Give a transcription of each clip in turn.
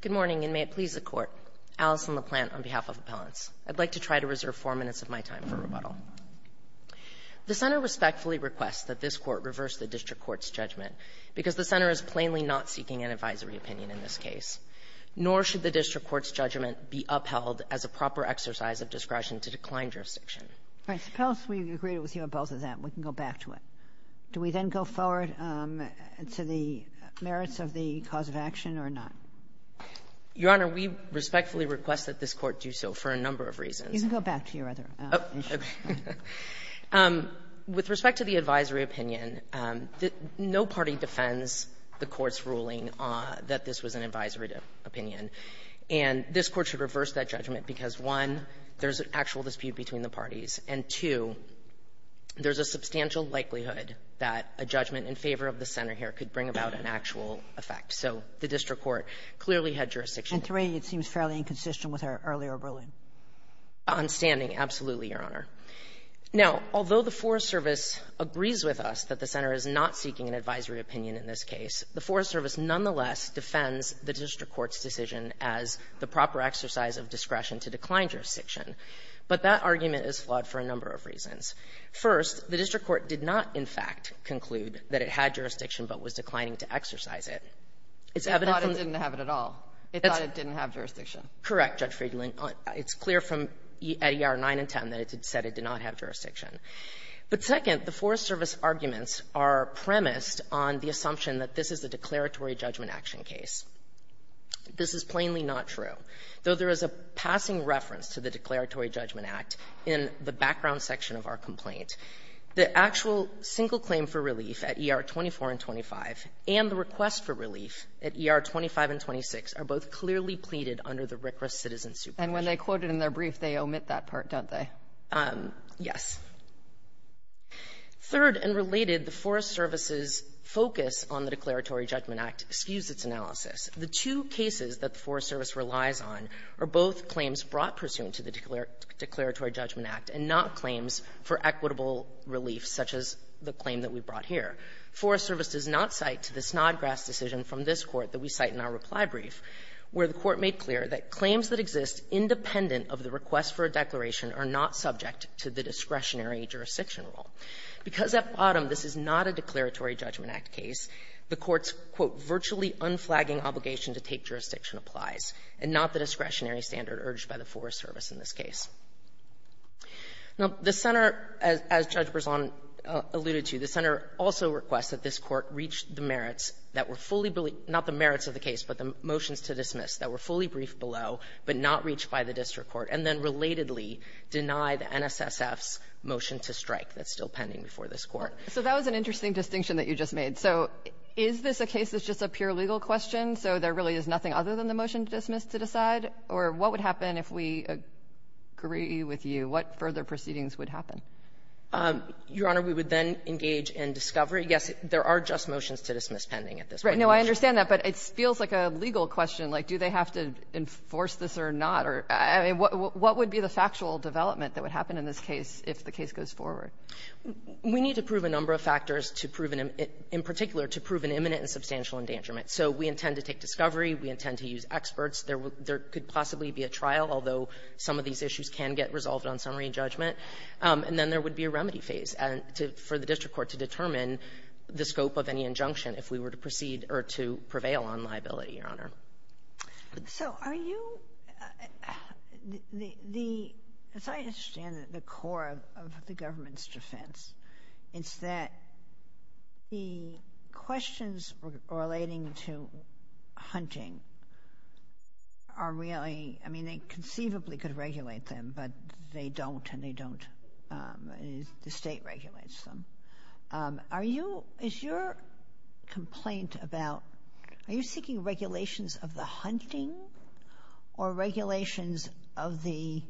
Good morning, and may it please the Court. Alison LaPlante on behalf of Appellants. I'd like to try to reserve four minutes of my time for rebuttal. The Center respectfully requests that this Court reverse the District Court's judgment because the Center is plainly not seeking an advisory opinion in this case, nor should the District Court's judgment be upheld as a proper exercise of discretion to decline jurisdiction. All right. Appellants, we agree with you on both of that, and we can go back to it. Do we then go forward to the merits of the cause of action or not? Your Honor, we respectfully request that this Court do so for a number of reasons. You can go back to your other issue. With respect to the advisory opinion, no party defends the Court's ruling that this was an advisory opinion. And this Court should reverse that judgment because, one, there's an actual dispute between the parties, and, two, there's a substantial likelihood that a judgment in favor of the Center here could bring about an actual effect. So the District Court clearly had jurisdiction. And, three, it seems fairly inconsistent with our earlier ruling. On standing, absolutely, Your Honor. Now, although the Forest Service agrees with us that the Center is not seeking an advisory opinion in this case, the Forest Service nonetheless defends the District Court's decision as the proper exercise of discretion to decline jurisdiction. But that argument is flawed for a number of reasons. First, the District Court did not, in fact, conclude that it had jurisdiction but was declining to exercise it. It's evident from the ---- It thought it didn't have it at all. It thought it didn't have jurisdiction. Correct, Judge Friedland. It's clear from ER 9 and 10 that it said it did not have jurisdiction. But, second, the Forest Service arguments are premised on the assumption that this is a declaratory judgment action case. This is plainly not true. Though there is a passing reference to the Declaratory Judgment Act in the background section of our complaint, the actual single claim for relief at ER 24 and 25 and the request for relief at ER 25 and 26 are both clearly pleaded under the RCRA citizen supervision. And when they quote it in their brief, they omit that part, don't they? Yes. Third, and related, the Forest Service's focus on the Declaratory Judgment Act skews its analysis. The two cases that the Forest Service relies on are both claims brought pursuant to the Declaratory Judgment Act and not claims for equitable relief, such as the claim that we brought here. Forest Service does not cite the Snodgrass decision from this Court that we cite in our reply brief, where the Court made clear that claims that exist independent of the request for a declaration are not subject to the discretionary jurisdiction rule. Because at bottom this is not a Declaratory Judgment Act case, the Court's, quote, virtually unflagging obligation to take jurisdiction applies, and not the discretionary standard urged by the Forest Service in this case. Now, the Center, as Judge Berzon alluded to, the Center also requests that this Court reach the merits that were fully believed, not the merits of the case, but the motions to dismiss that were fully briefed below but not reached by the district court, and then relatedly deny the NSSF's motion to strike that's still pending before this Court. So that was an interesting distinction that you just made. So is this a case that's just a pure legal question, so there really is nothing other than the motion to dismiss to decide? Or what would happen if we agree with you? What further proceedings would happen? Your Honor, we would then engage in discovery. Yes, there are just motions to dismiss pending at this point. Right. No, I understand that, but it feels like a legal question, like do they have to enforce this or not? I mean, what would be the factual development that would happen in this case if the case goes forward? We need to prove a number of factors to prove, in particular, to prove an imminent and substantial endangerment. So we intend to take discovery. We intend to use experts. There could possibly be a trial, although some of these issues can get resolved on summary and judgment. And then there would be a remedy phase for the district court to determine the scope of any injunction if we were to proceed or to prevail on liability, Your Honor. So are you, the, as I understand it, the core of the government's defense is that the questions relating to hunting are really, I mean, they conceivably could regulate them, but they don't and they don't, the state regulates them. Are you, is your complaint about, are you seeking regulations of the hunting or regulations of the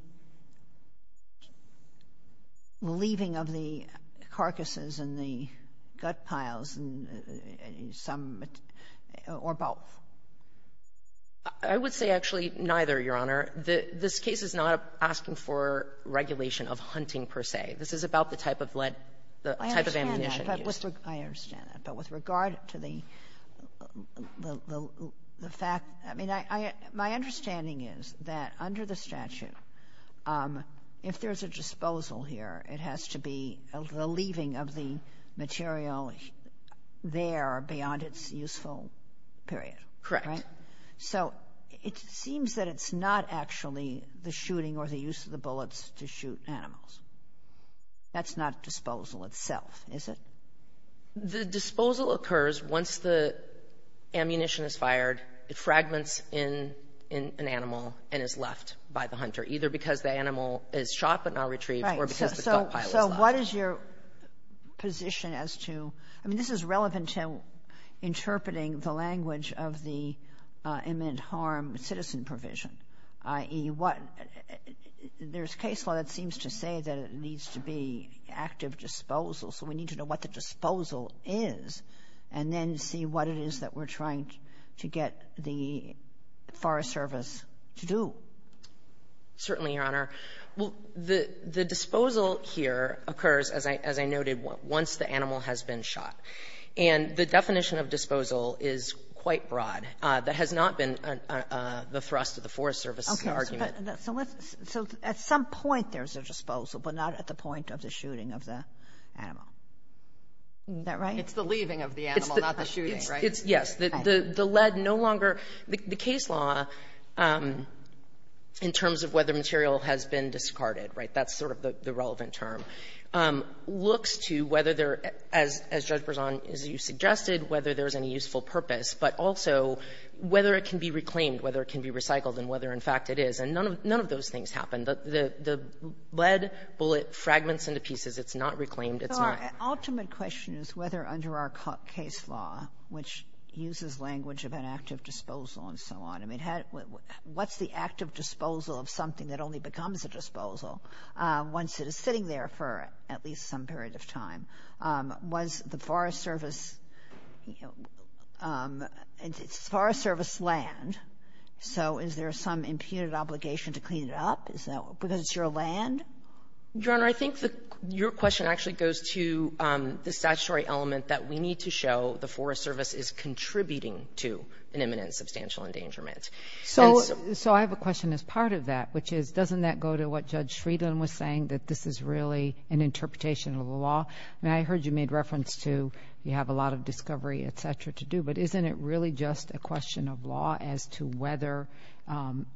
leaving of the carcasses and the gut piles and some, or both? I would say actually neither, Your Honor. The, this case is not asking for regulation of hunting per se. This is about the type of lead, the type of ammunition used. I understand that, but with regard to the fact, I mean, my understanding is that under the statute, if there's a disposal here, it has to be the leaving of the material there beyond its useful period. Correct. Right? So it seems that it's not actually the shooting or the use of the bullets to shoot animals. That's not disposal itself, is it? The disposal occurs once the ammunition is fired. It fragments in an animal and is left by the hunter, either because the animal is shot but not retrieved or because the gut pile is left. So what is your position as to, I mean, this is relevant to interpreting the language of the imminent harm citizen provision, i.e., what, there's case law that seems to say that it needs to be active disposal, so we need to know what the disposal is and then see what it is that we're trying to get the Forest Service to do. Certainly, Your Honor. Well, the, the disposal here occurs, as I, as I noted, once the animal has been shot. And the definition of disposal is quite broad. That has not been the thrust of the Forest Service's argument. So at some point there's a disposal, but not at the point of the shooting of the animal. Isn't that right? It's the leaving of the animal, not the shooting, right? It's, yes. The lead no longer, the case law, in terms of whether material has been discarded, right, that's sort of the relevant term, looks to whether there, as Judge Berzon, as you suggested, whether there's any useful purpose, but also whether it can be reclaimed, whether it can be recycled, and whether, in fact, it is. And none of, none of those things happen. The, the, the lead bullet fragments into pieces. It's not reclaimed. It's not. So our ultimate question is whether under our case law, which uses language of an active disposal and so on, I mean, had, what's the active disposal of something that only becomes a disposal once it is sitting there for at least some period of time? Was the Forest Service, you know, it's Forest Service land, so is there some imputed obligation to clean it up? Is that, because it's your land? Your Honor, I think the, your question actually goes to the statutory element that we need to show the Forest Service is contributing to an imminent substantial endangerment. So, so I have a question as part of that, which is, doesn't that go to what Judge I mean, I heard you made reference to, you have a lot of discovery, et cetera, to do, but isn't it really just a question of law as to whether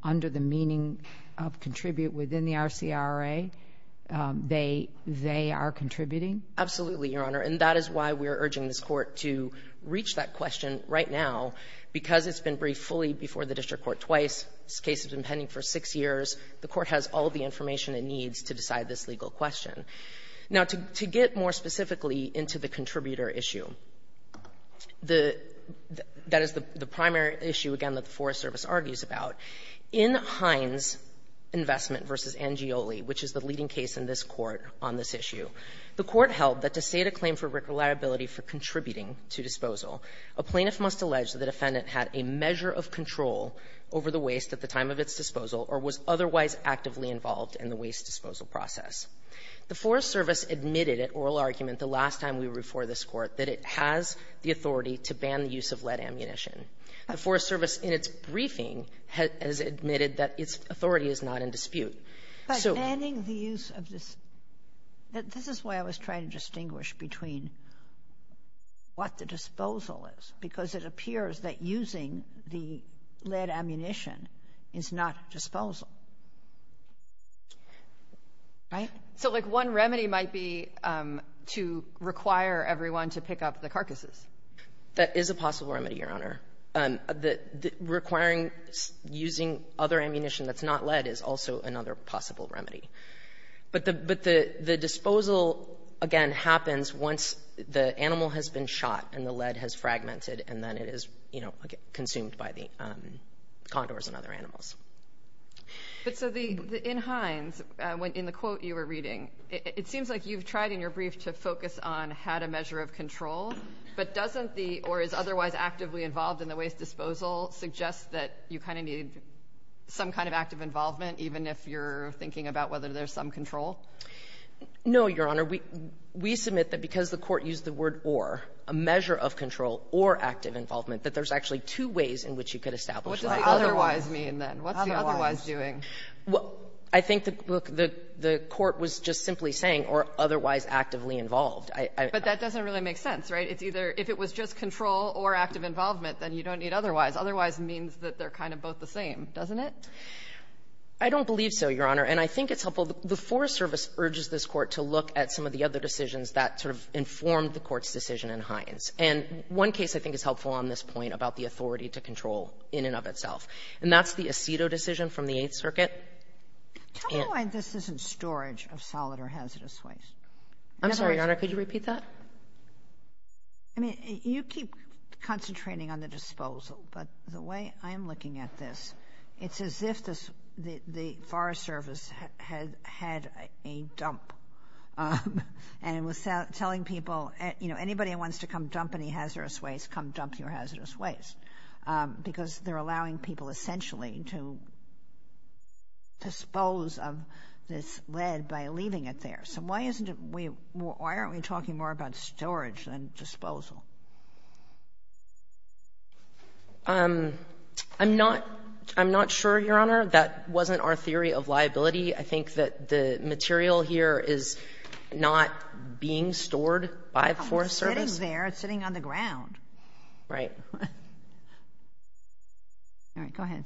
under the meaning of contribute within the RCRA, they, they are contributing? Absolutely, Your Honor, and that is why we are urging this Court to reach that question right now, because it's been briefed fully before the District Court twice. This case has been pending for six years. The Court has all the information it needs to decide this legal question. Now, to, to get more specifically into the contributor issue, the, that is the, the primary issue, again, that the Forest Service argues about. In Hines' investment v. Angioli, which is the leading case in this Court on this issue, the Court held that to state a claim for reliability for contributing to disposal, a plaintiff must allege that the defendant had a measure of control over the waste at the time of its disposal or was otherwise actively involved in the waste disposal process. The Forest Service admitted at oral argument the last time we were before this Court that it has the authority to ban the use of lead ammunition. The Forest Service, in its briefing, has admitted that its authority is not in dispute. So — But banning the use of this — this is why I was trying to distinguish between what the disposal is, because it appears that using the lead ammunition is not disposal. Right? So, like, one remedy might be to require everyone to pick up the carcasses. That is a possible remedy, Your Honor. Requiring using other ammunition that's not lead is also another possible remedy. But the, but the, the disposal, again, happens once the animal has been shot and the lead has fragmented and then it is, you know, consumed by the condors and other animals. But so the, in Hines, in the quote you were reading, it seems like you've tried in your brief to focus on had a measure of control, but doesn't the or is otherwise actively involved in the waste disposal suggest that you kind of need some kind of active involvement, even if you're thinking about whether there's some control? No, Your Honor. We, we submit that because the Court used the word or, a measure of control or active involvement, that there's actually two ways in which you could establish that. What does the otherwise mean, then? What's the otherwise doing? Well, I think the, look, the, the Court was just simply saying or otherwise actively involved. I, I. But that doesn't really make sense, right? It's either, if it was just control or active involvement, then you don't need otherwise. Otherwise means that they're kind of both the same, doesn't it? I don't believe so, Your Honor. And I think it's helpful, the Forest Service urges this Court to look at some of the other decisions that sort of informed the Court's decision in Hines. And one case I think is helpful on this point about the authority to control in and of itself. And that's the Aceto decision from the Eighth Circuit. Tell me why this isn't storage of solid or hazardous waste. I'm sorry, Your Honor, could you repeat that? I mean, you keep concentrating on the disposal, but the way I'm looking at this, it's as if this, the, the Forest Service had, had a dump. And it was telling people, you know, anybody who wants to come dump any hazardous waste, come dump your hazardous waste. Because they're allowing people essentially to dispose of this lead by leaving it there. So why isn't it, we, why aren't we talking more about storage than disposal? I'm not, I'm not sure, Your Honor, that wasn't our theory of liability. I think that the material here is not being stored by the Forest Service. It's sitting there, it's sitting on the ground. Right. All right, go ahead.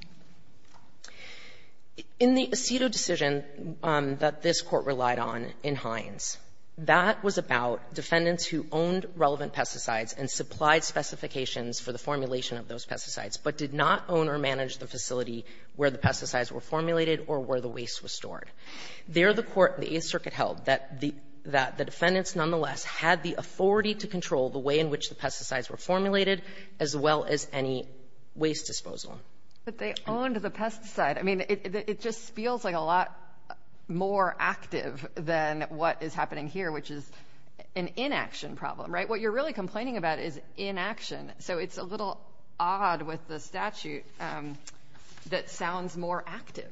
In the Aceto decision that this Court relied on in Hines, that was about defendants who owned relevant pesticides and supplied specifications for the formulation of those pesticides, but did not own or manage the facility where the pesticides were formulated or where the waste was stored. There the Court, the Eighth Circuit held that the, that the defendants nonetheless had the authority to control the way in which the pesticides were formulated as well as any waste disposal. But they owned the pesticide. I mean, it, it just feels like a lot more active than what is happening here, which is an inaction problem, right? What you're really complaining about is inaction. So it's a little odd with the statute that sounds more active.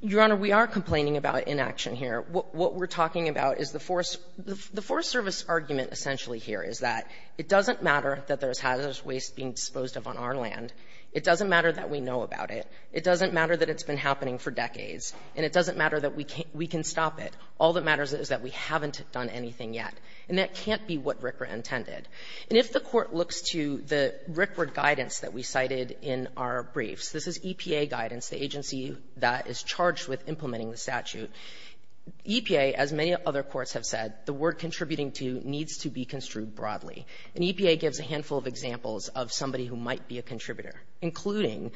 Your Honor, we are complaining about inaction here. What, what we're talking about is the Forest, the Forest Service argument essentially here is that it doesn't matter that there's hazardous waste being disposed of on our land. It doesn't matter that we know about it. It doesn't matter that it's been happening for decades. And it doesn't matter that we can't, we can stop it. All that matters is that we haven't done anything yet. And that can't be what RCRA intended. And if the Court looks to the RCRA guidance that we cited in our briefs, this is EPA guidance, the agency that is charged with implementing the statute. EPA, as many other courts have said, the word contributing to needs to be construed broadly. And EPA gives a handful of examples of somebody who might be a contributor, including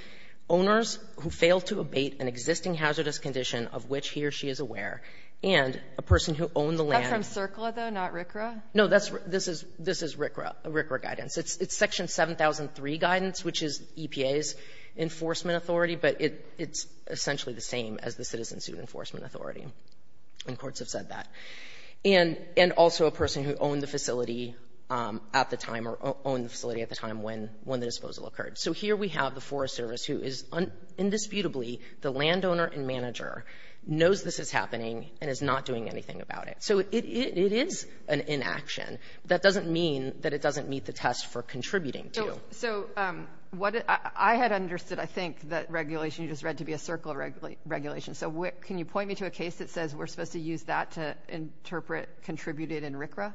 owners who fail to abate an existing hazardous condition of which he or she is aware, and a person who owned the land. But from CERCLA, though, not RCRA? No, that's, this is, this is RCRA, RCRA guidance. It's, it's Section 7003 guidance, which is EPA's enforcement authority. But it, it's essentially the same as the Citizen Suit Enforcement Authority. And courts have said that. And, and also a person who owned the facility at the time or owned the facility at the time when, when the disposal occurred. So here we have the Forest Service who is indisputably the landowner and manager, knows this is happening, and is not doing anything about it. So it, it, it is an inaction. That doesn't mean that it doesn't meet the test for contributing to. So what, I had understood, I think, that regulation, you just read to be a CERCLA regulation. So what, can you point me to a case that says we're supposed to use that to interpret contributed in RCRA?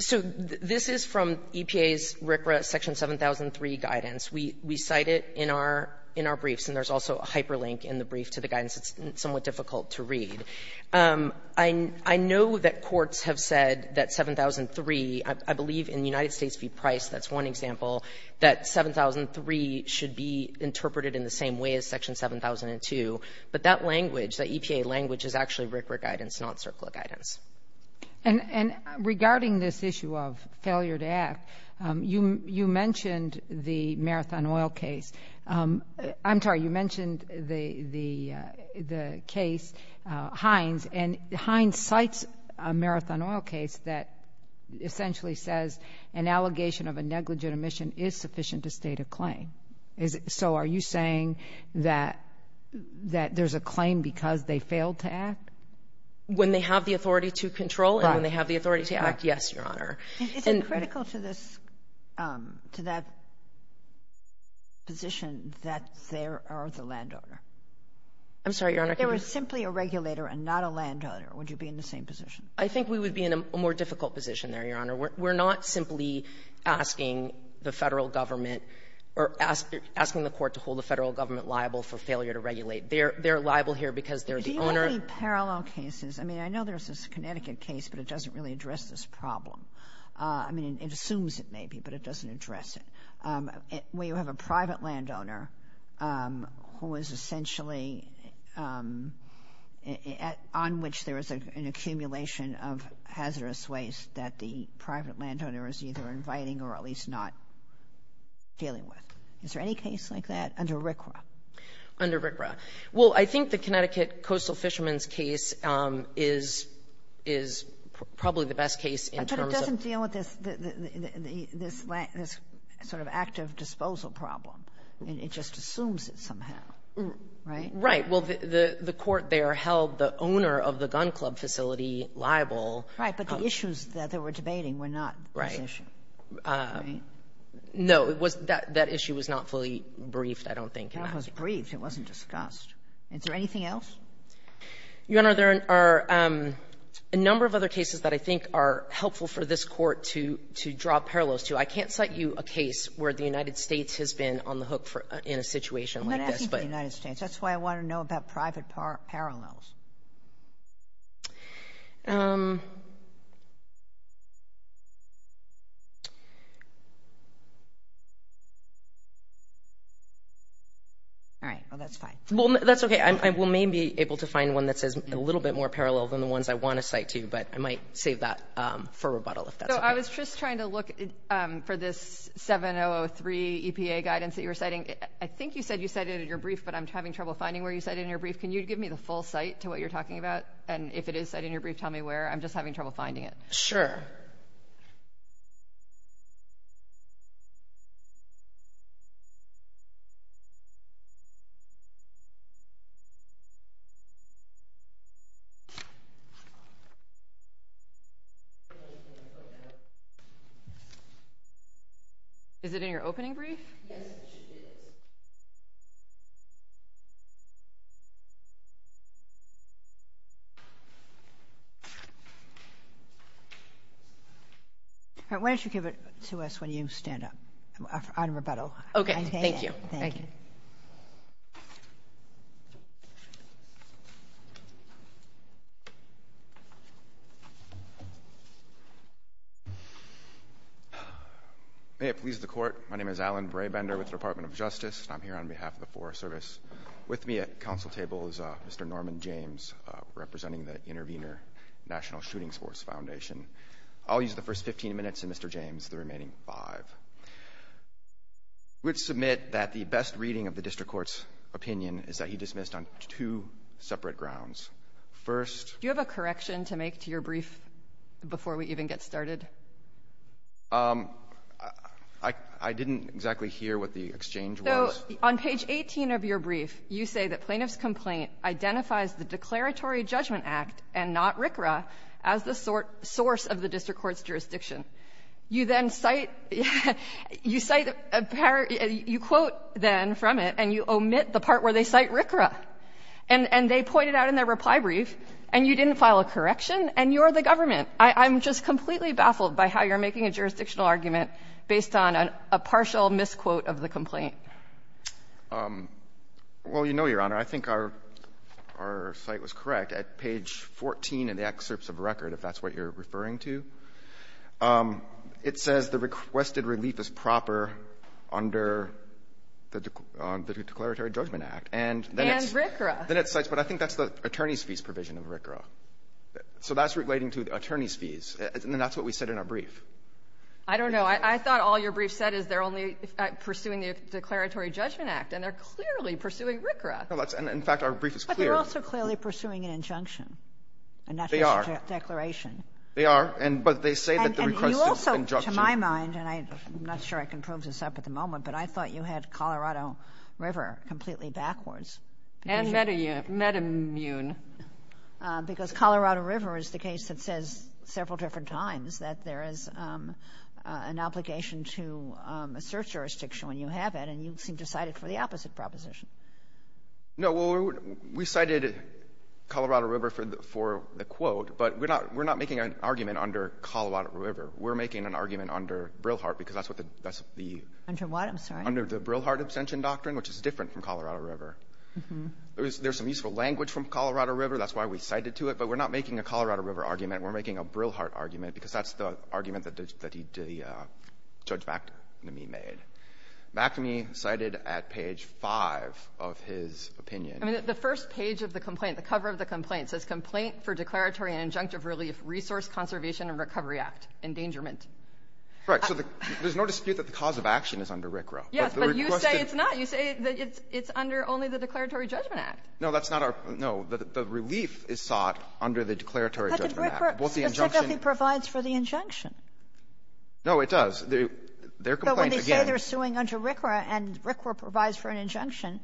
So this is from EPA's RCRA Section 7003 guidance. We, we cite it in our, in our briefs. And there's also a hyperlink in the brief to the guidance. It's somewhat difficult to read. I, I know that courts have said that 7003, I, I believe in the United States v. Price, that's one example, that 7003 should be interpreted in the same way as Section 7002. But that language, that EPA language is actually RCRA guidance, not CERCLA guidance. And, and regarding this issue of failure to act, you, you mentioned the Marathon Oil case. I'm sorry, you mentioned the, the, the case, Hines. And Hines cites a Marathon Oil case that essentially says an allegation of a negligent omission is sufficient to state a claim. Is it, so are you saying that, that there's a claim because they failed to act? When they have the authority to control and when they have the authority to act, yes, Your Honor. Is it critical to this, to that position that there are the landowner? I'm sorry, Your Honor. If there was simply a regulator and not a landowner, would you be in the same position? I think we would be in a more difficult position there, Your Honor. We're, we're not simply asking the Federal government or ask, asking the court to hold the Federal government liable for failure to regulate. They're, they're liable here because they're the owner. Do you have any parallel cases? I mean, I know there's this Connecticut case, but it doesn't really address this problem. I mean, it assumes it may be, but it doesn't address it. We have a private landowner who is essentially, on which there is an accumulation of hazardous waste that the private landowner is either inviting or at least not dealing with. Is there any case like that under RCRA? Under RCRA. Well, I think the Connecticut Coastal Fishermen's case is, is probably the best case in terms of... It's not an active disposal problem. It just assumes it somehow. Right? Right. Well, the, the court there held the owner of the gun club facility liable. Right. But the issues that they were debating were not this issue. Right. Right? No, it was, that, that issue was not fully briefed, I don't think, in that case. That was briefed. It wasn't discussed. Is there anything else? Your Honor, there are a number of other cases that I think are helpful for this Court to, to draw parallels to. I can't cite you a case where the United States has been on the hook for, in a situation like this, but... I'm not asking for the United States. That's why I want to know about private parallels. All right. Well, that's fine. Well, that's okay. I, I will maybe be able to find one that says a little bit more parallel than the ones I So, I was just trying to look for this 7-003 EPA guidance that you were citing. I think you said you cited it in your brief, but I'm having trouble finding where you cited it in your brief. Can you give me the full cite to what you're talking about? And if it is cited in your brief, tell me where. I'm just having trouble finding it. Sure. Is it in your opening brief? Yes, it is. All right. Why don't you give it to us when you stand up, on rebuttal. Okay. Thank you. Thank you. May it please the Court. My name is Alan Braybender with the Department of Justice, and I'm here on behalf of the Forest Service. With me at the Council table is Mr. Norman James, representing the Intervenor National Shooting Sports Foundation. I'll use the first 15 minutes, and Mr. James, the remaining five. We would submit that the best reading of the District Court's opinion is that he dismissed on two separate grounds. First— Do you have a correction to make to your brief before we even get started? I didn't exactly hear what the exchange was. So on page 18 of your brief, you say that plaintiff's complaint identifies the Declaratory Judgment Act and not RCRA as the source of the District Court's jurisdiction. You then cite — you cite — you quote, then, from it, and you omit the part where they cite RCRA. And they point it out in their reply brief, and you didn't file a correction, and you're the government. I'm just completely baffled by how you're making a jurisdictional argument based on a partial misquote of the complaint. Well, you know, Your Honor, I think our — our cite was correct. At page 14 in the excerpts of record, if that's what you're referring to, it says the requested relief is proper under the Declaratory Judgment Act. And then it's— And RCRA. Then it cites — but I think that's the attorney's fees provision of RCRA. So that's relating to attorney's fees. And that's what we said in our brief. I don't know. I thought all your brief said is they're only pursuing the Declaratory Judgment Act, and they're clearly pursuing RCRA. Well, that's — and, in fact, our brief is clear. But they're also clearly pursuing an injunction. They are. And not just a declaration. They are. And — but they say that the request is an injunction. And you also, to my mind — and I'm not sure I can prove this up at the moment, but I thought you had Colorado River completely backwards. And meta-immune. Because Colorado River is the case that says several different times that there is an obligation to assert jurisdiction when you have it. And you seem to cite it for the opposite proposition. No. Well, we cited Colorado River for the quote, but we're not making an argument under Colorado River. We're making an argument under Brilhart, because that's what the — Under what? I'm sorry. Under the Brilhart abstention doctrine, which is different from Colorado River. Mm-hmm. There's some useful language from Colorado River. That's why we cited to it. But we're not making a Colorado River argument. We're making a Brilhart argument, because that's the argument that Judge McAmey made. McAmey cited at page 5 of his opinion — I mean, the first page of the complaint, the cover of the complaint, says, Complaint for Declaratory and Injunctive Relief Resource Conservation and Recovery Act. Endangerment. Right. So there's no dispute that the cause of action is under RCRA. Yes, but you say it's not. You say that it's under only the Declaratory Judgment Act. No, that's not our — no. The relief is sought under the Declaratory Judgment Act. But the RCRA subjectively provides for the injunction. No, it does. Their complaint, again — But when they say they're suing under RCRA and RCRA provides for an injunction,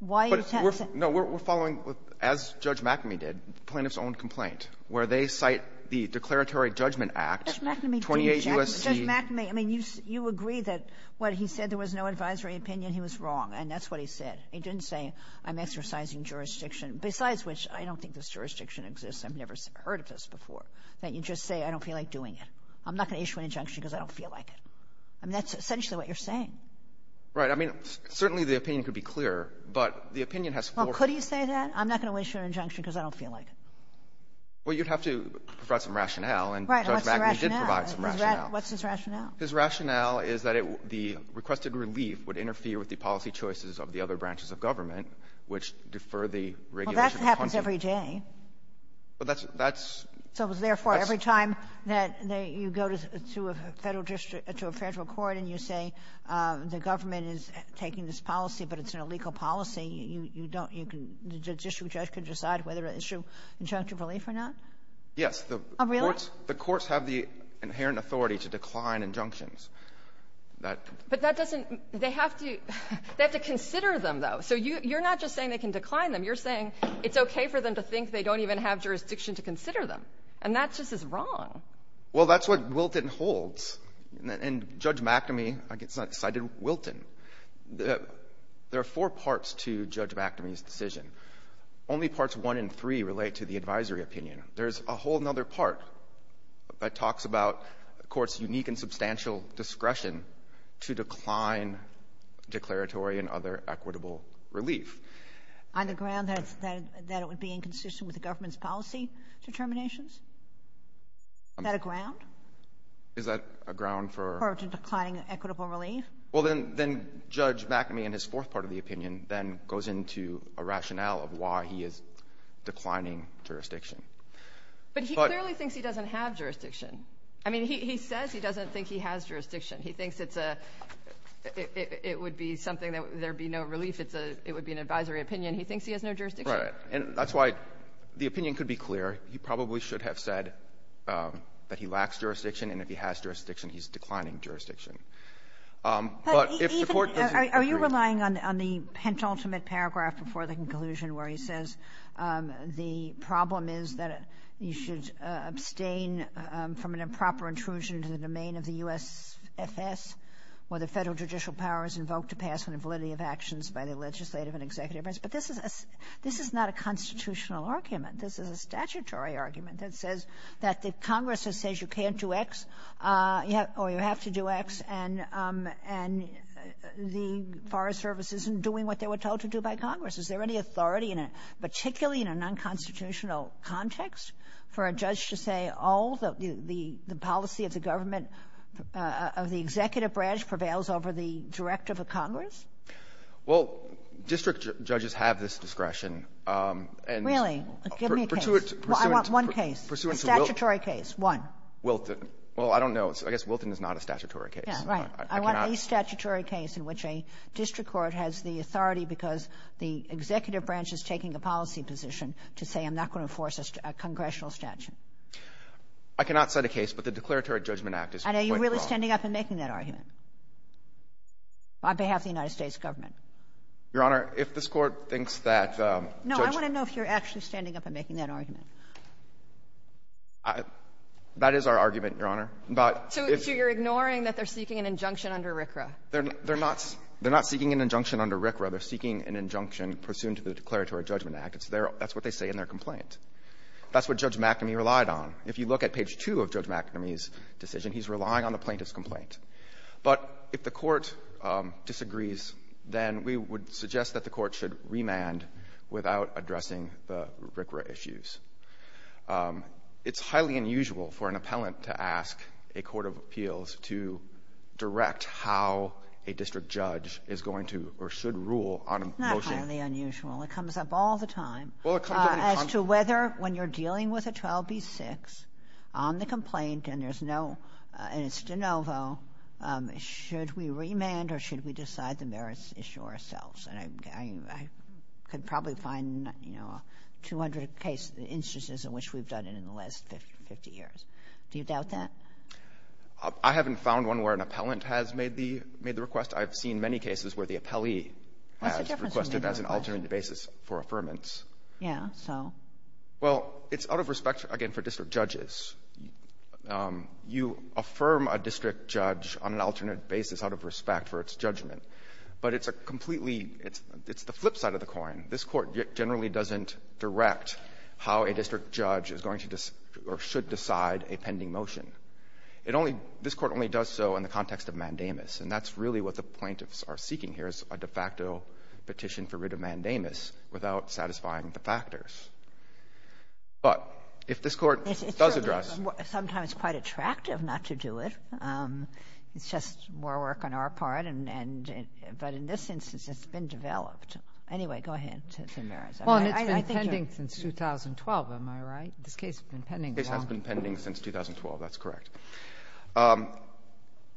why are you attempting — But we're — no, we're following, as Judge McAmey did, the plaintiff's own complaint, where they cite the Declaratory Judgment Act, 28 U.S.C. But Judge McAmey, I mean, you agree that when he said there was no advisory opinion, he was wrong, and that's what he said. He didn't say, I'm exercising jurisdiction. Besides which, I don't think this jurisdiction exists. I've never heard of this before, that you just say, I don't feel like doing it. I'm not going to issue an injunction because I don't feel like it. I mean, that's essentially what you're saying. Right. I mean, certainly the opinion could be clearer, but the opinion has four — Well, could he say that? I'm not going to issue an injunction because I don't feel like it. Well, you'd have to provide some rationale, and Judge McAmey did provide some rationale. What's his rationale? His rationale is that the requested relief would interfere with the policy choices of the other branches of government, which defer the regulation of punitive — Well, that happens every day. Well, that's — So therefore, every time that you go to a federal court and you say the government is taking this policy but it's an illegal policy, you don't — the district judge can decide whether to issue injunctive relief or not? Yes. Oh, really? The courts have the inherent authority to decline injunctions. But that doesn't — they have to consider them, though. So you're not just saying they can decline them. You're saying it's okay for them to think they don't even have jurisdiction to consider them. And that just is wrong. Well, that's what Wilton holds. And Judge McAmey cited Wilton. There are four parts to Judge McAmey's decision. Only parts one and three relate to the advisory opinion. There's a whole other part that talks about courts' unique and substantial discretion to decline declaratory and other equitable relief. On the ground that it would be inconsistent with the government's policy determinations? Is that a ground? Is that a ground for — For declining equitable relief? Well, then Judge McAmey in his fourth part of the opinion then goes into a rationale of why he is declining jurisdiction. But he clearly thinks he doesn't have jurisdiction. I mean, he says he doesn't think he has jurisdiction. He thinks it's a — it would be something that there would be no relief. It would be an advisory opinion. He thinks he has no jurisdiction. Right. And that's why the opinion could be clear. He probably should have said that he lacks jurisdiction, and if he has jurisdiction, he's declining jurisdiction. But if the court doesn't agree — Are you relying on the penultimate paragraph before the conclusion where he says the problem is that you should abstain from an improper intrusion into the domain of the USFS where the federal judicial power is invoked to pass on the validity of actions by the legislative and executive branch? But this is not a constitutional argument. This is a statutory argument that says that the Congress says you can't do X or you have to do X, and the Forest Service isn't doing what they were told to do by Congress. Is there any authority, particularly in an unconstitutional context, for a judge to say, oh, the policy of the government of the executive branch prevails over the directive of Congress? Well, district judges have this discretion. Really? Give me a case. Well, I want one case. A statutory case. One. Wilton. Well, I don't know. I guess Wilton is not a statutory case. Yeah, right. I want a statutory case in which a district court has the authority because the executive branch is taking a policy position to say I'm not going to enforce a congressional statute. I cannot set a case, but the Declaratory Judgment Act is quite wrong. Are you really standing up and making that argument on behalf of the United States government? Your Honor, if this Court thinks that Judge — No, I want to know if you're actually standing up and making that argument. That is our argument, Your Honor. But if — So you're ignoring that they're seeking an injunction under RCRA? They're not seeking an injunction under RCRA. They're seeking an injunction pursuant to the Declaratory Judgment Act. That's what they say in their complaint. That's what Judge McEnany relied on. If you look at page 2 of Judge McEnany's decision, he's relying on the plaintiff's complaint. But if the Court disagrees, then we would suggest that the Court should remand without addressing the RCRA issues. It's highly unusual for an appellant to ask a court of appeals to direct how a district judge is going to or should rule on a motion. It's not highly unusual. It comes up all the time. Well, it comes up —— as to whether, when you're dealing with a 12B6 on the complaint and there's no — and it's de novo, should we remand or should we decide the merits issue ourselves? And I could probably find, you know, 200 cases, instances in which we've done it in the last 50 years. Do you doubt that? I haven't found one where an appellant has made the request. I've seen many cases where the appellee has requested as an alternative basis for affirmance. Yeah. So? Well, it's out of respect, again, for district judges. You affirm a district judge on an alternate basis out of respect for its judgment. But it's a completely — it's the flip side of the coin. This Court generally doesn't direct how a district judge is going to or should decide a pending motion. It only — this Court only does so in the context of mandamus. And that's really what the plaintiffs are seeking here is a de facto petition for writ of mandamus without satisfying the factors. But if this Court does address — It's sometimes quite attractive not to do it. It's just more work on our part, and — but in this instance, it's been developed. Anyway, go ahead, Mr. Maris. Well, and it's been pending since 2012. Am I right? This case has been pending for — This case has been pending since 2012. That's correct.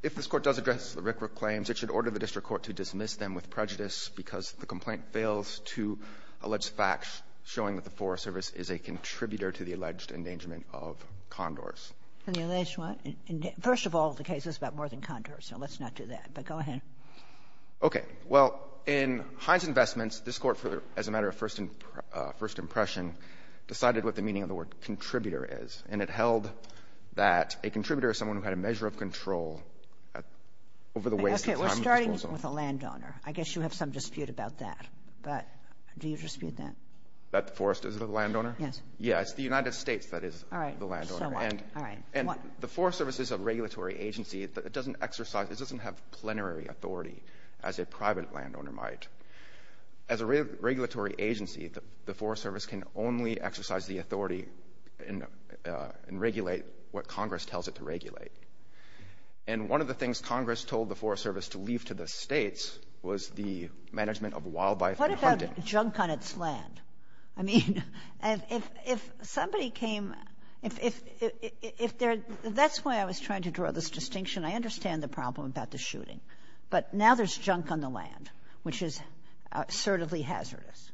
If this Court does address the Rikra claims, it should order the district court to dismiss them with prejudice because the complaint fails to allege facts showing that the Forest Service is a contributor to the alleged endangerment of condors. And the alleged what? First of all, the case is about more than condors, so let's not do that. But go ahead. Okay. Well, in Hines Investments, this Court, as a matter of first impression, decided what the meaning of the word contributor is. And it held that a contributor is someone who had a measure of control over the waste of time. Okay. We're starting with a landowner. I guess you have some dispute about that. But do you dispute that? That the Forest is the landowner? Yes. Yeah. It's the United States that is the landowner. All right. So what? And the Forest Service is a regulatory agency. It doesn't exercise — it doesn't have plenary authority as a private landowner might. As a regulatory agency, the Forest Service can only exercise the authority and regulate what Congress tells it to regulate. And one of the things Congress told the Forest Service to leave to the states was the management of wildlife and hunting. What about junk on its land? I mean, if somebody came — if there — that's why I was trying to draw this distinction. I understand the problem about the shooting. But now there's junk on the land, which is assertively hazardous.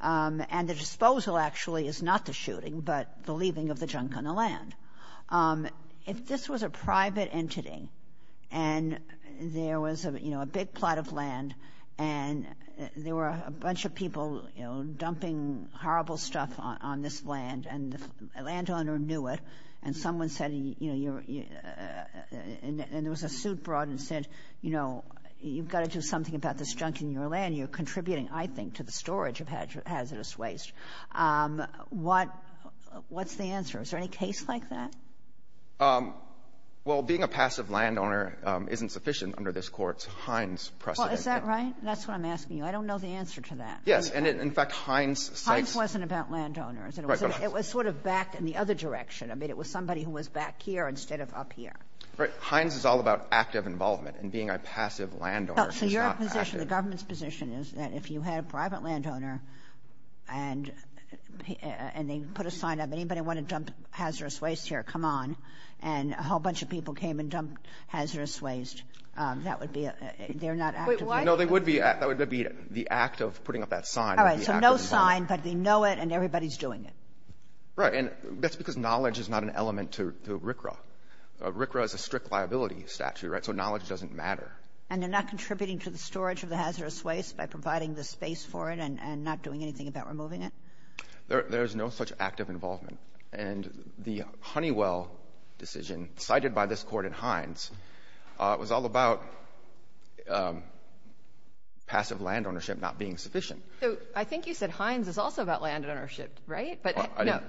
And the disposal, actually, is not the shooting, but the leaving of the junk on the land. If this was a private entity and there was, you know, a big plot of land and there were a bunch of people, you know, dumping horrible stuff on this land and the landowner knew it and someone said, you know, you're — and there was a suit brought and said, you know, you've got to do something about this junk in your land. You're contributing, I think, to the storage of hazardous waste. What's the answer? Is there any case like that? Well, being a passive landowner isn't sufficient under this Court's Hines precedent. Well, is that right? That's what I'm asking you. I don't know the answer to that. Yes. And in fact, Hines says — Hines wasn't about landowners. Right, but — It was sort of backed in the other direction. I mean, it was somebody who was back here instead of up here. Right. Hines is all about active involvement and being a passive landowner is not active. So your position, the government's position, is that if you had a private landowner and they put a sign up, anybody want to dump hazardous waste here, come on, and a whole bunch of people came and dumped hazardous waste, that would be — they're not active. No, they would be. That would be the act of putting up that sign. All right. So no sign, but they know it and everybody's doing it. Right. And that's because knowledge is not an element to RCRA. RCRA is a strict liability statute, right, so knowledge doesn't matter. And they're not contributing to the storage of the hazardous waste by providing the space for it and not doing anything about removing it? There is no such act of involvement. And the Honeywell decision cited by this court in Hines was all about passive landownership not being sufficient. So I think you said Hines is also about landownership, right? No,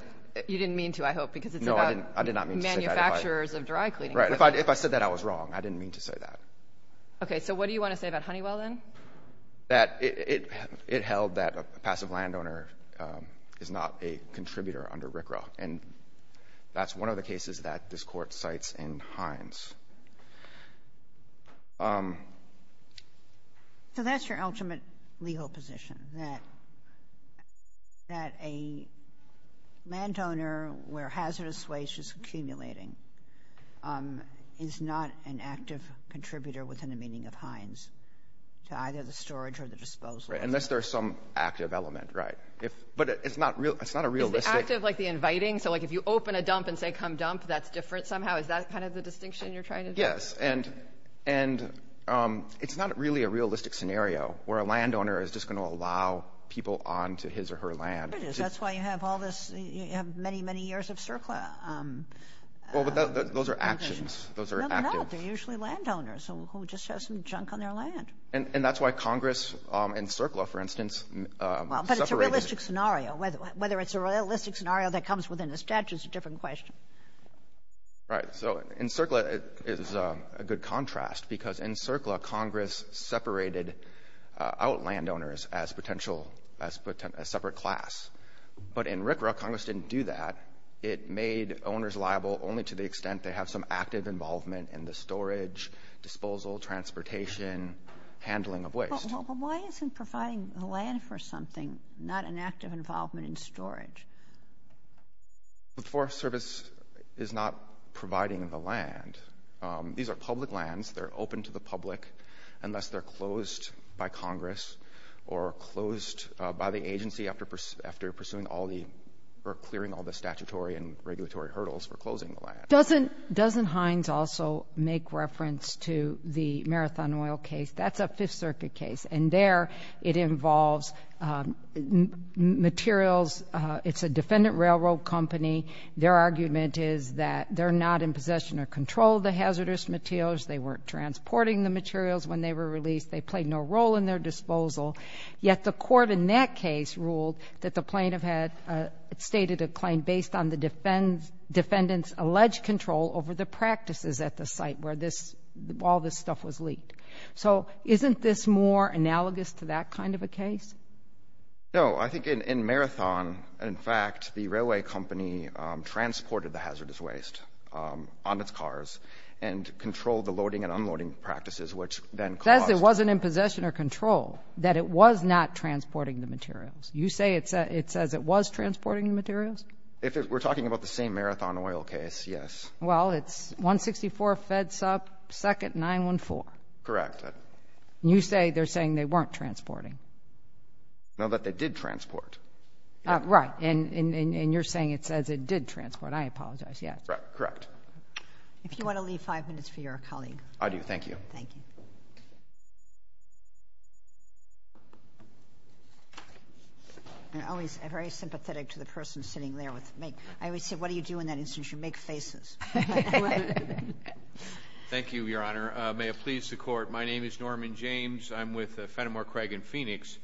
you didn't mean to, I hope, because it's about manufacturing. I did not mean to say that. Manufacturers of dry cleaning equipment. Right. If I said that, I was wrong. I didn't mean to say that. Okay. So what do you want to say about Honeywell then? That it held that a passive landowner is not a contributor under RCRA, and that's one of the cases that this court cites in Hines. So that's your ultimate legal position, that a landowner, where hazardous waste is accumulating, is not an active contributor within the meaning of Hines to either the storage or the disposal. Right, unless there's some active element, right. But it's not realistic. Is the active like the inviting? So like if you open a dump and say, come dump, that's different somehow? Is that kind of the distinction you're trying to make? Yes. And it's not really a realistic scenario where a landowner is just going to allow people onto his or her land. It is. That's why you have all this, you have many, many years of CERCLA. Well, but those are actions. Those are actions. No, they're not. They're usually landowners who just have some junk on their land. And that's why Congress and CERCLA, for instance, separated. But it's a realistic scenario. Whether it's a realistic scenario that comes within the statute is a different question. Right. So in CERCLA, it is a good contrast because in CERCLA, Congress separated out landowners as potential, as separate class. But in RCRA, Congress didn't do that. It made owners liable only to the extent they have some active involvement in the storage, disposal, transportation, handling of waste. But why isn't providing land for something not an active involvement in storage? The Forest Service is not providing the land. These are public lands. They're open to the public unless they're closed by Congress or closed by the agency after pursuing all the, or clearing all the statutory and regulatory hurdles for closing the land. Doesn't Hines also make reference to the Marathon Oil case? That's a Fifth Circuit case. And there it involves materials. It's a defendant railroad company. Their argument is that they're not in possession or control of the hazardous materials. They weren't transporting the materials when they were released. They played no role in their disposal. Yet the court in that case ruled that the plaintiff had stated a claim based on the defendant's alleged control over the practices at the site where all this stuff was leaked. So isn't this more analogous to that kind of a case? No. I think in Marathon, in fact, the railway company transported the hazardous waste on its cars and controlled the loading and unloading practices, which then caused- Says it wasn't in possession or control, that it was not transporting the materials. You say it says it was transporting the materials? We're talking about the same Marathon Oil case, yes. Well, it's 164 Fed Sup, 2nd, 914. Correct. And you say they're saying they weren't transporting? No, that they did transport. Right. And you're saying it says it did transport. I apologize. Yes. Correct. If you want to leave five minutes for your colleague. I do. Thank you. Thank you. I'm always very sympathetic to the person sitting there. I always say, what do you do in that instance? You make faces. Thank you, Your Honor. May it please the Court, my name is Norman James. I'm with Fenimore, Craig, and Phoenix,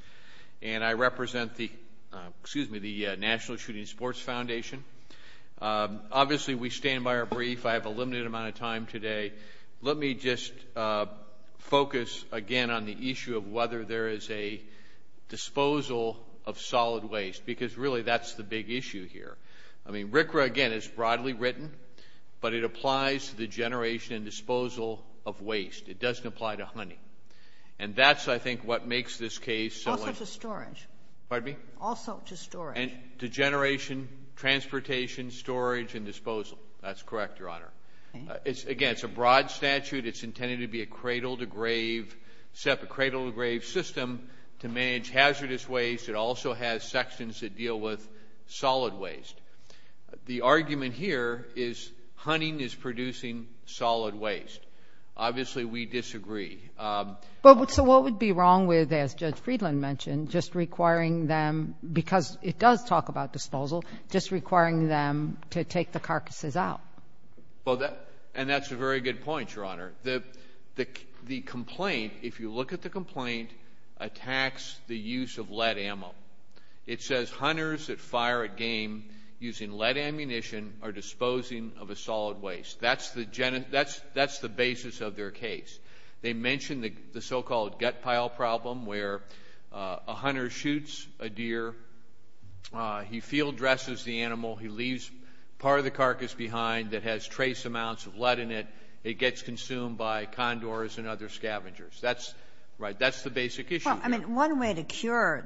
and I represent the National Shooting Sports Foundation. Obviously, we stand by our brief. I have a limited amount of time today. Let me just focus again on the issue of whether there is a disposal of solid waste, because, really, that's the big issue here. I mean, RCRA, again, is broadly written, but it applies to the generation and disposal of waste. It doesn't apply to honey. And that's, I think, what makes this case. Also to storage. Pardon me? Also to storage. And to generation, transportation, storage, and disposal. That's correct, Your Honor. Again, it's a broad statute. It's intended to be a cradle-to-grave, set up a cradle-to-grave system to manage hazardous waste. It also has sections that deal with solid waste. The argument here is hunting is producing solid waste. Obviously, we disagree. So what would be wrong with, as Judge Friedland mentioned, just requiring them, because it does talk about disposal, just requiring them to take the carcasses out? And that's a very good point, Your Honor. The complaint, if you look at the complaint, attacks the use of lead ammo. It says hunters that fire a game using lead ammunition are disposing of a solid waste. That's the basis of their case. They mention the so-called gut pile problem where a hunter shoots a deer. He field dresses the animal. He leaves part of the carcass behind that has trace amounts of lead in it. It gets consumed by condors and other scavengers. That's right. That's the basic issue. Well, I mean, one way to cure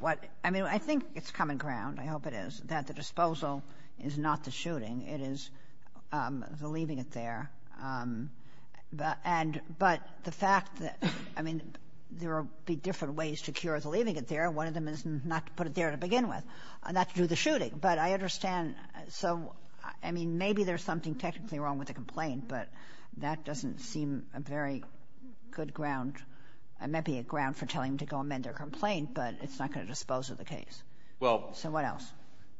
what, I mean, I think it's common ground, I hope it is, that the disposal is not the shooting. It is the leaving it there. But the fact that, I mean, there will be different ways to cure the leaving it there. One of them is not to put it there to begin with, not to do the shooting. But I understand. So, I mean, maybe there's something technically wrong with the complaint, but that doesn't seem a very good ground. It might be a ground for telling them to go amend their complaint, but it's not going to dispose of the case. So what else?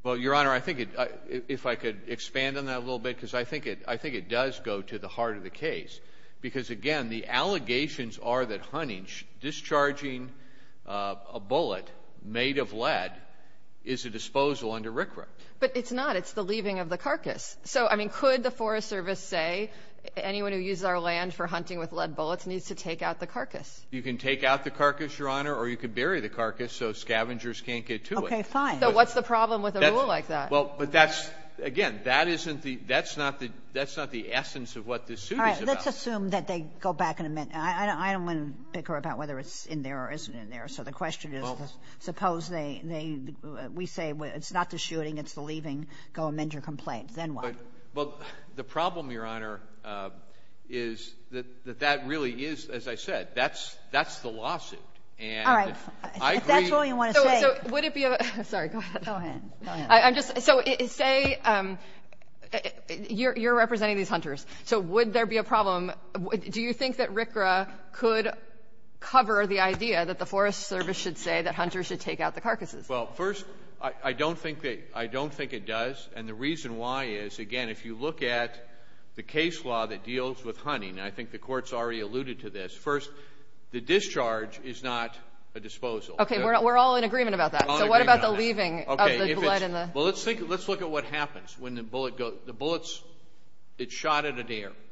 Well, Your Honor, I think if I could expand on that a little bit because I think it does go to the heart of the case because, again, the allegations are that hunting, discharging a bullet made of lead is a disposal under RCRA. But it's not. It's the leaving of the carcass. So, I mean, could the Forest Service say anyone who uses our land for hunting with lead bullets needs to take out the carcass? You can take out the carcass, Your Honor, or you can bury the carcass so scavengers can't get to it. Okay, fine. So what's the problem with a rule like that? Well, but that's, again, that's not the essence of what this suit is about. All right, let's assume that they go back and amend. I don't want to bicker about whether it's in there or isn't in there. So the question is suppose we say it's not the shooting, it's the leaving. Go amend your complaint. Then what? Well, the problem, Your Honor, is that that really is, as I said, that's the lawsuit. All right. If that's all you want to say. Sorry, go ahead. So say you're representing these hunters. So would there be a problem? Do you think that RCRA could cover the idea that the Forest Service should say that hunters should take out the carcasses? Well, first, I don't think it does. And the reason why is, again, if you look at the case law that deals with hunting, and I think the Court's already alluded to this, first, the discharge is not a disposal. Okay, we're all in agreement about that. So what about the leaving of the blood and the lead? Well, let's look at what happens when the bullet goes. So the bullet's shot at a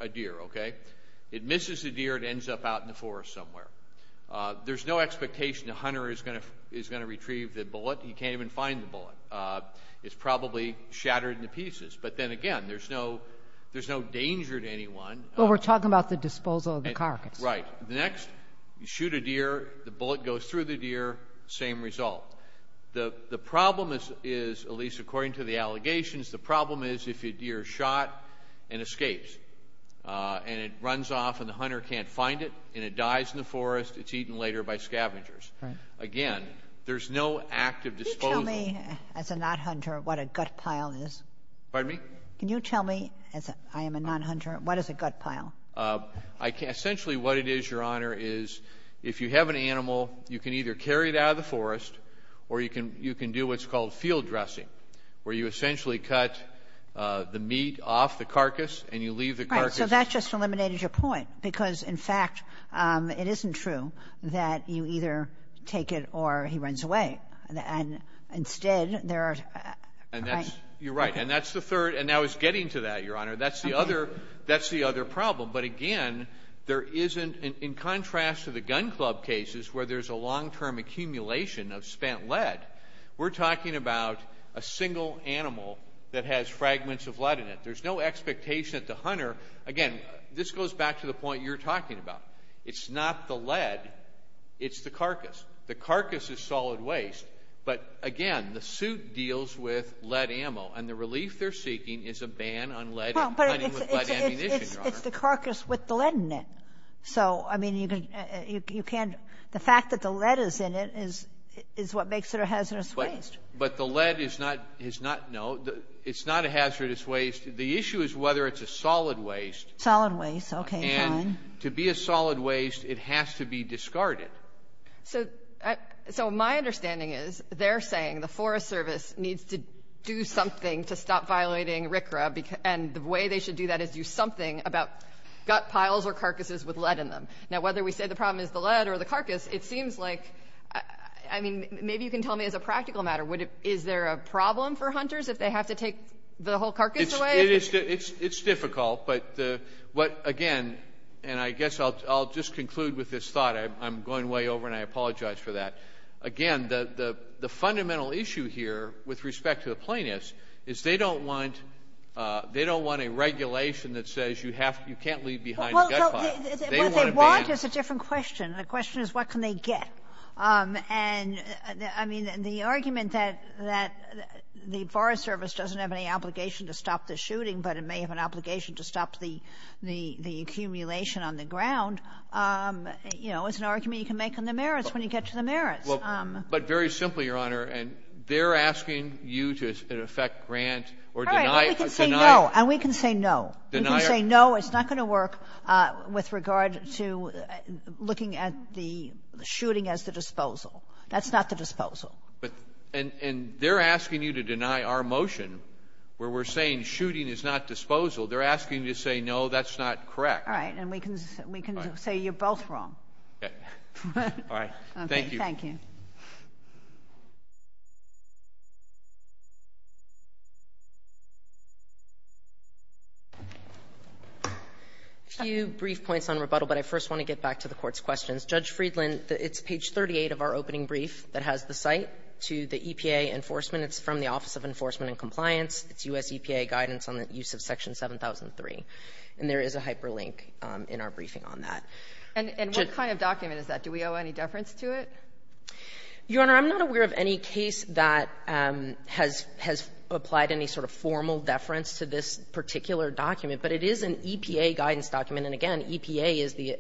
deer, okay? It misses the deer. It ends up out in the forest somewhere. There's no expectation the hunter is going to retrieve the bullet. He can't even find the bullet. It's probably shattered into pieces. But then again, there's no danger to anyone. Well, we're talking about the disposal of the carcass. Right. Next, you shoot a deer, the bullet goes through the deer, same result. The problem is, at least according to the allegations, the problem is if a deer is shot and escapes and it runs off and the hunter can't find it and it dies in the forest, it's eaten later by scavengers. Right. Again, there's no active disposal. Can you tell me, as a non-hunter, what a gut pile is? Pardon me? Can you tell me, as I am a non-hunter, what is a gut pile? Essentially what it is, Your Honor, is if you have an animal, you can either carry it out of the forest or you can do what's called field dressing, where you essentially cut the meat off the carcass and you leave the carcass. Right. So that just eliminated your point because, in fact, it isn't true that you either take it or he runs away. And instead, there are... You're right. And that's the third. And now he's getting to that, Your Honor. That's the other problem. But, again, there isn't... In contrast to the gun club cases where there's a long-term accumulation of spent lead, we're talking about a single animal that has fragments of lead in it. There's no expectation that the hunter... Again, this goes back to the point you're talking about. It's not the lead. It's the carcass. The carcass is solid waste. But, again, the suit deals with lead ammo. And the relief they're seeking is a ban on lead ammunition, Your Honor. It's the carcass with the lead in it. So, I mean, you can't... The fact that the lead is in it is what makes it a hazardous waste. But the lead is not... No, it's not a hazardous waste. The issue is whether it's a solid waste. Solid waste. Okay, fine. And to be a solid waste, it has to be discarded. So my understanding is they're saying the Forest Service needs to do something to stop violating RCRA. And the way they should do that is do something about gut piles or carcasses with lead in them. Now, whether we say the problem is the lead or the carcass, it seems like... I mean, maybe you can tell me as a practical matter, is there a problem for hunters if they have to take the whole carcass away? It's difficult. But, again, and I guess I'll just conclude with this thought. I'm going way over and I apologize for that. Again, the fundamental issue here with respect to the plaintiffs is they don't want a regulation that says you can't leave behind a gut pile. Well, if they want, it's a different question. The question is what can they get. And, I mean, the argument that the Forest Service doesn't have any obligation to stop the shooting is an argument you can make on the merits when you get to the merits. But very simply, Your Honor, they're asking you to in effect grant or deny... All right. And we can say no. We can say no. It's not going to work with regard to looking at the shooting as the disposal. That's not the disposal. And they're asking you to deny our motion where we're saying shooting is not disposal. They're asking you to say no, that's not correct. All right. And we can say you're both wrong. Okay. All right. Thank you. Thank you. A few brief points on rebuttal, but I first want to get back to the Court's questions. Judge Friedland, it's page 38 of our opening brief that has the site to the EPA enforcement. It's from the Office of Enforcement and Compliance. It's U.S. EPA guidance on the use of Section 7003. And there is a hyperlink in our briefing on that. And what kind of document is that? Do we owe any deference to it? Your Honor, I'm not aware of any case that has applied any sort of formal deference to this particular document. But it is an EPA guidance document. And, again, EPA is the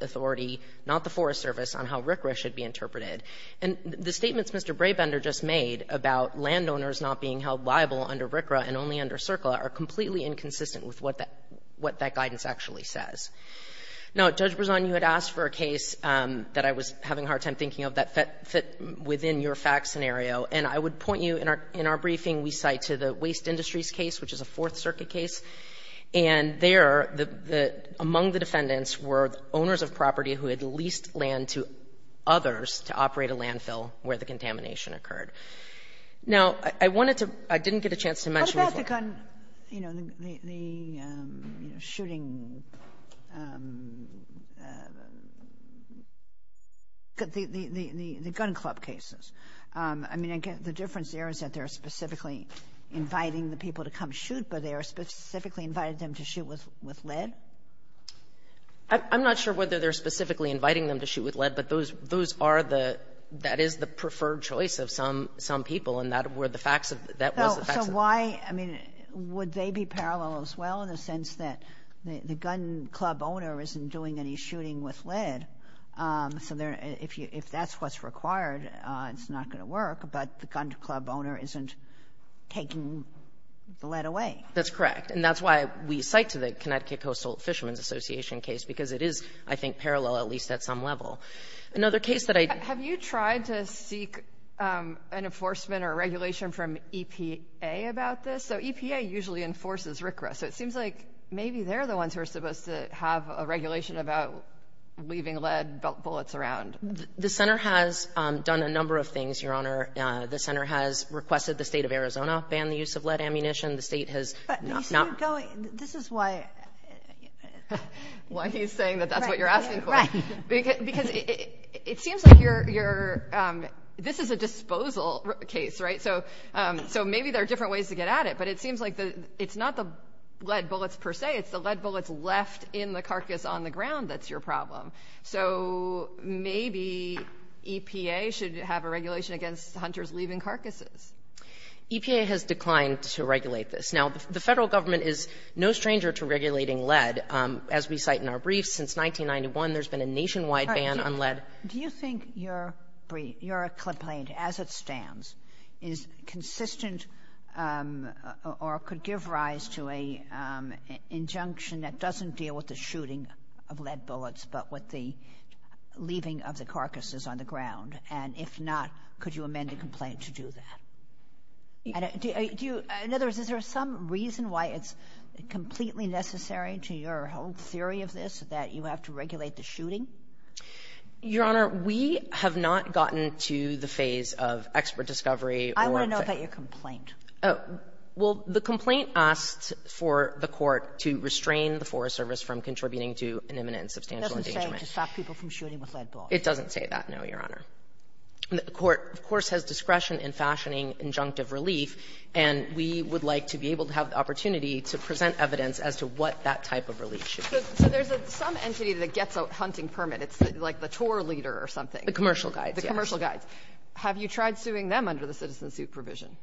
authority, not the Forest Service, on how RCRA should be interpreted. Now, Judge Berzon, you had asked for a case that I was having a hard time thinking of that fit within your fact scenario. And I would point you, in our briefing, we cite to the Waste Industries case, which is a Fourth Circuit case. And there, among the defendants were owners of property who had leased land to others to operate a landfill where the contamination occurred. What about the gun, you know, the shooting, the gun club cases? I mean, the difference there is that they're specifically inviting the people to come shoot, but they are specifically inviting them to shoot with lead? I'm not sure whether they're specifically inviting them to shoot with lead, but those are the – that is the preferred choice of some people. And that were the facts of – that was the facts of the case. So why – I mean, would they be parallel as well in the sense that the gun club owner isn't doing any shooting with lead? So if that's what's required, it's not going to work, but the gun club owner isn't taking the lead away. That's correct. And that's why we cite to the Connecticut Coastal Fishermen's Association case, because it is, I think, parallel, at least at some level. Another case that I – I think an enforcement or regulation from EPA about this. So EPA usually enforces RCRA. So it seems like maybe they're the ones who are supposed to have a regulation about leaving lead bullets around. The center has done a number of things, Your Honor. The center has requested the state of Arizona ban the use of lead ammunition. The state has not – But you see it going – this is why – Why he's saying that that's what you're asking for. Right. Because it seems like you're – this is a disposal case, right? So maybe there are different ways to get at it, but it seems like it's not the lead bullets per se. It's the lead bullets left in the carcass on the ground that's your problem. So maybe EPA should have a regulation against hunters leaving carcasses. EPA has declined to regulate this. Now, the federal government is no stranger to regulating lead. And as we cite in our brief, since 1991, there's been a nationwide ban on lead. Do you think your brief, your complaint as it stands, is consistent or could give rise to an injunction that doesn't deal with the shooting of lead bullets, but with the leaving of the carcasses on the ground? And if not, could you amend the complaint to do that? Do you – in other words, is there some reason why it's completely necessary to your whole theory of this that you have to regulate the shooting? Your Honor, we have not gotten to the phase of expert discovery or – I want to know about your complaint. Well, the complaint asked for the court to restrain the Forest Service from contributing to an imminent and substantial endangerment. It doesn't say to stop people from shooting with lead bullets. It doesn't say that, no, Your Honor. The court, of course, has discretion in fashioning injunctive relief, and we would like to be able to have the opportunity to present evidence as to what that type of relief should be. So there's some entity that gets a hunting permit. It's like the tour leader or something. The commercial guides, yes. The commercial guides. Have you tried suing them under the citizen suit provision?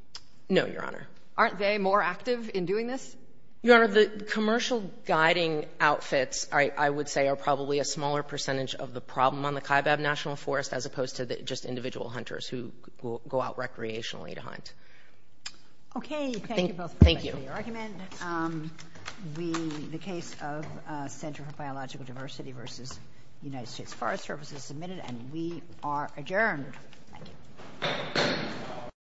No, Your Honor. Aren't they more active in doing this? Your Honor, the commercial guiding outfits, I would say, are probably a smaller percentage of the problem on the Kaibab National Forest as opposed to just individual hunters who go out recreationally to hunt. Okay. Thank you both for that clear argument. Thank you. The case of Center for Biological Diversity v. United States Forest Service is submitted, and we are adjourned. Thank you.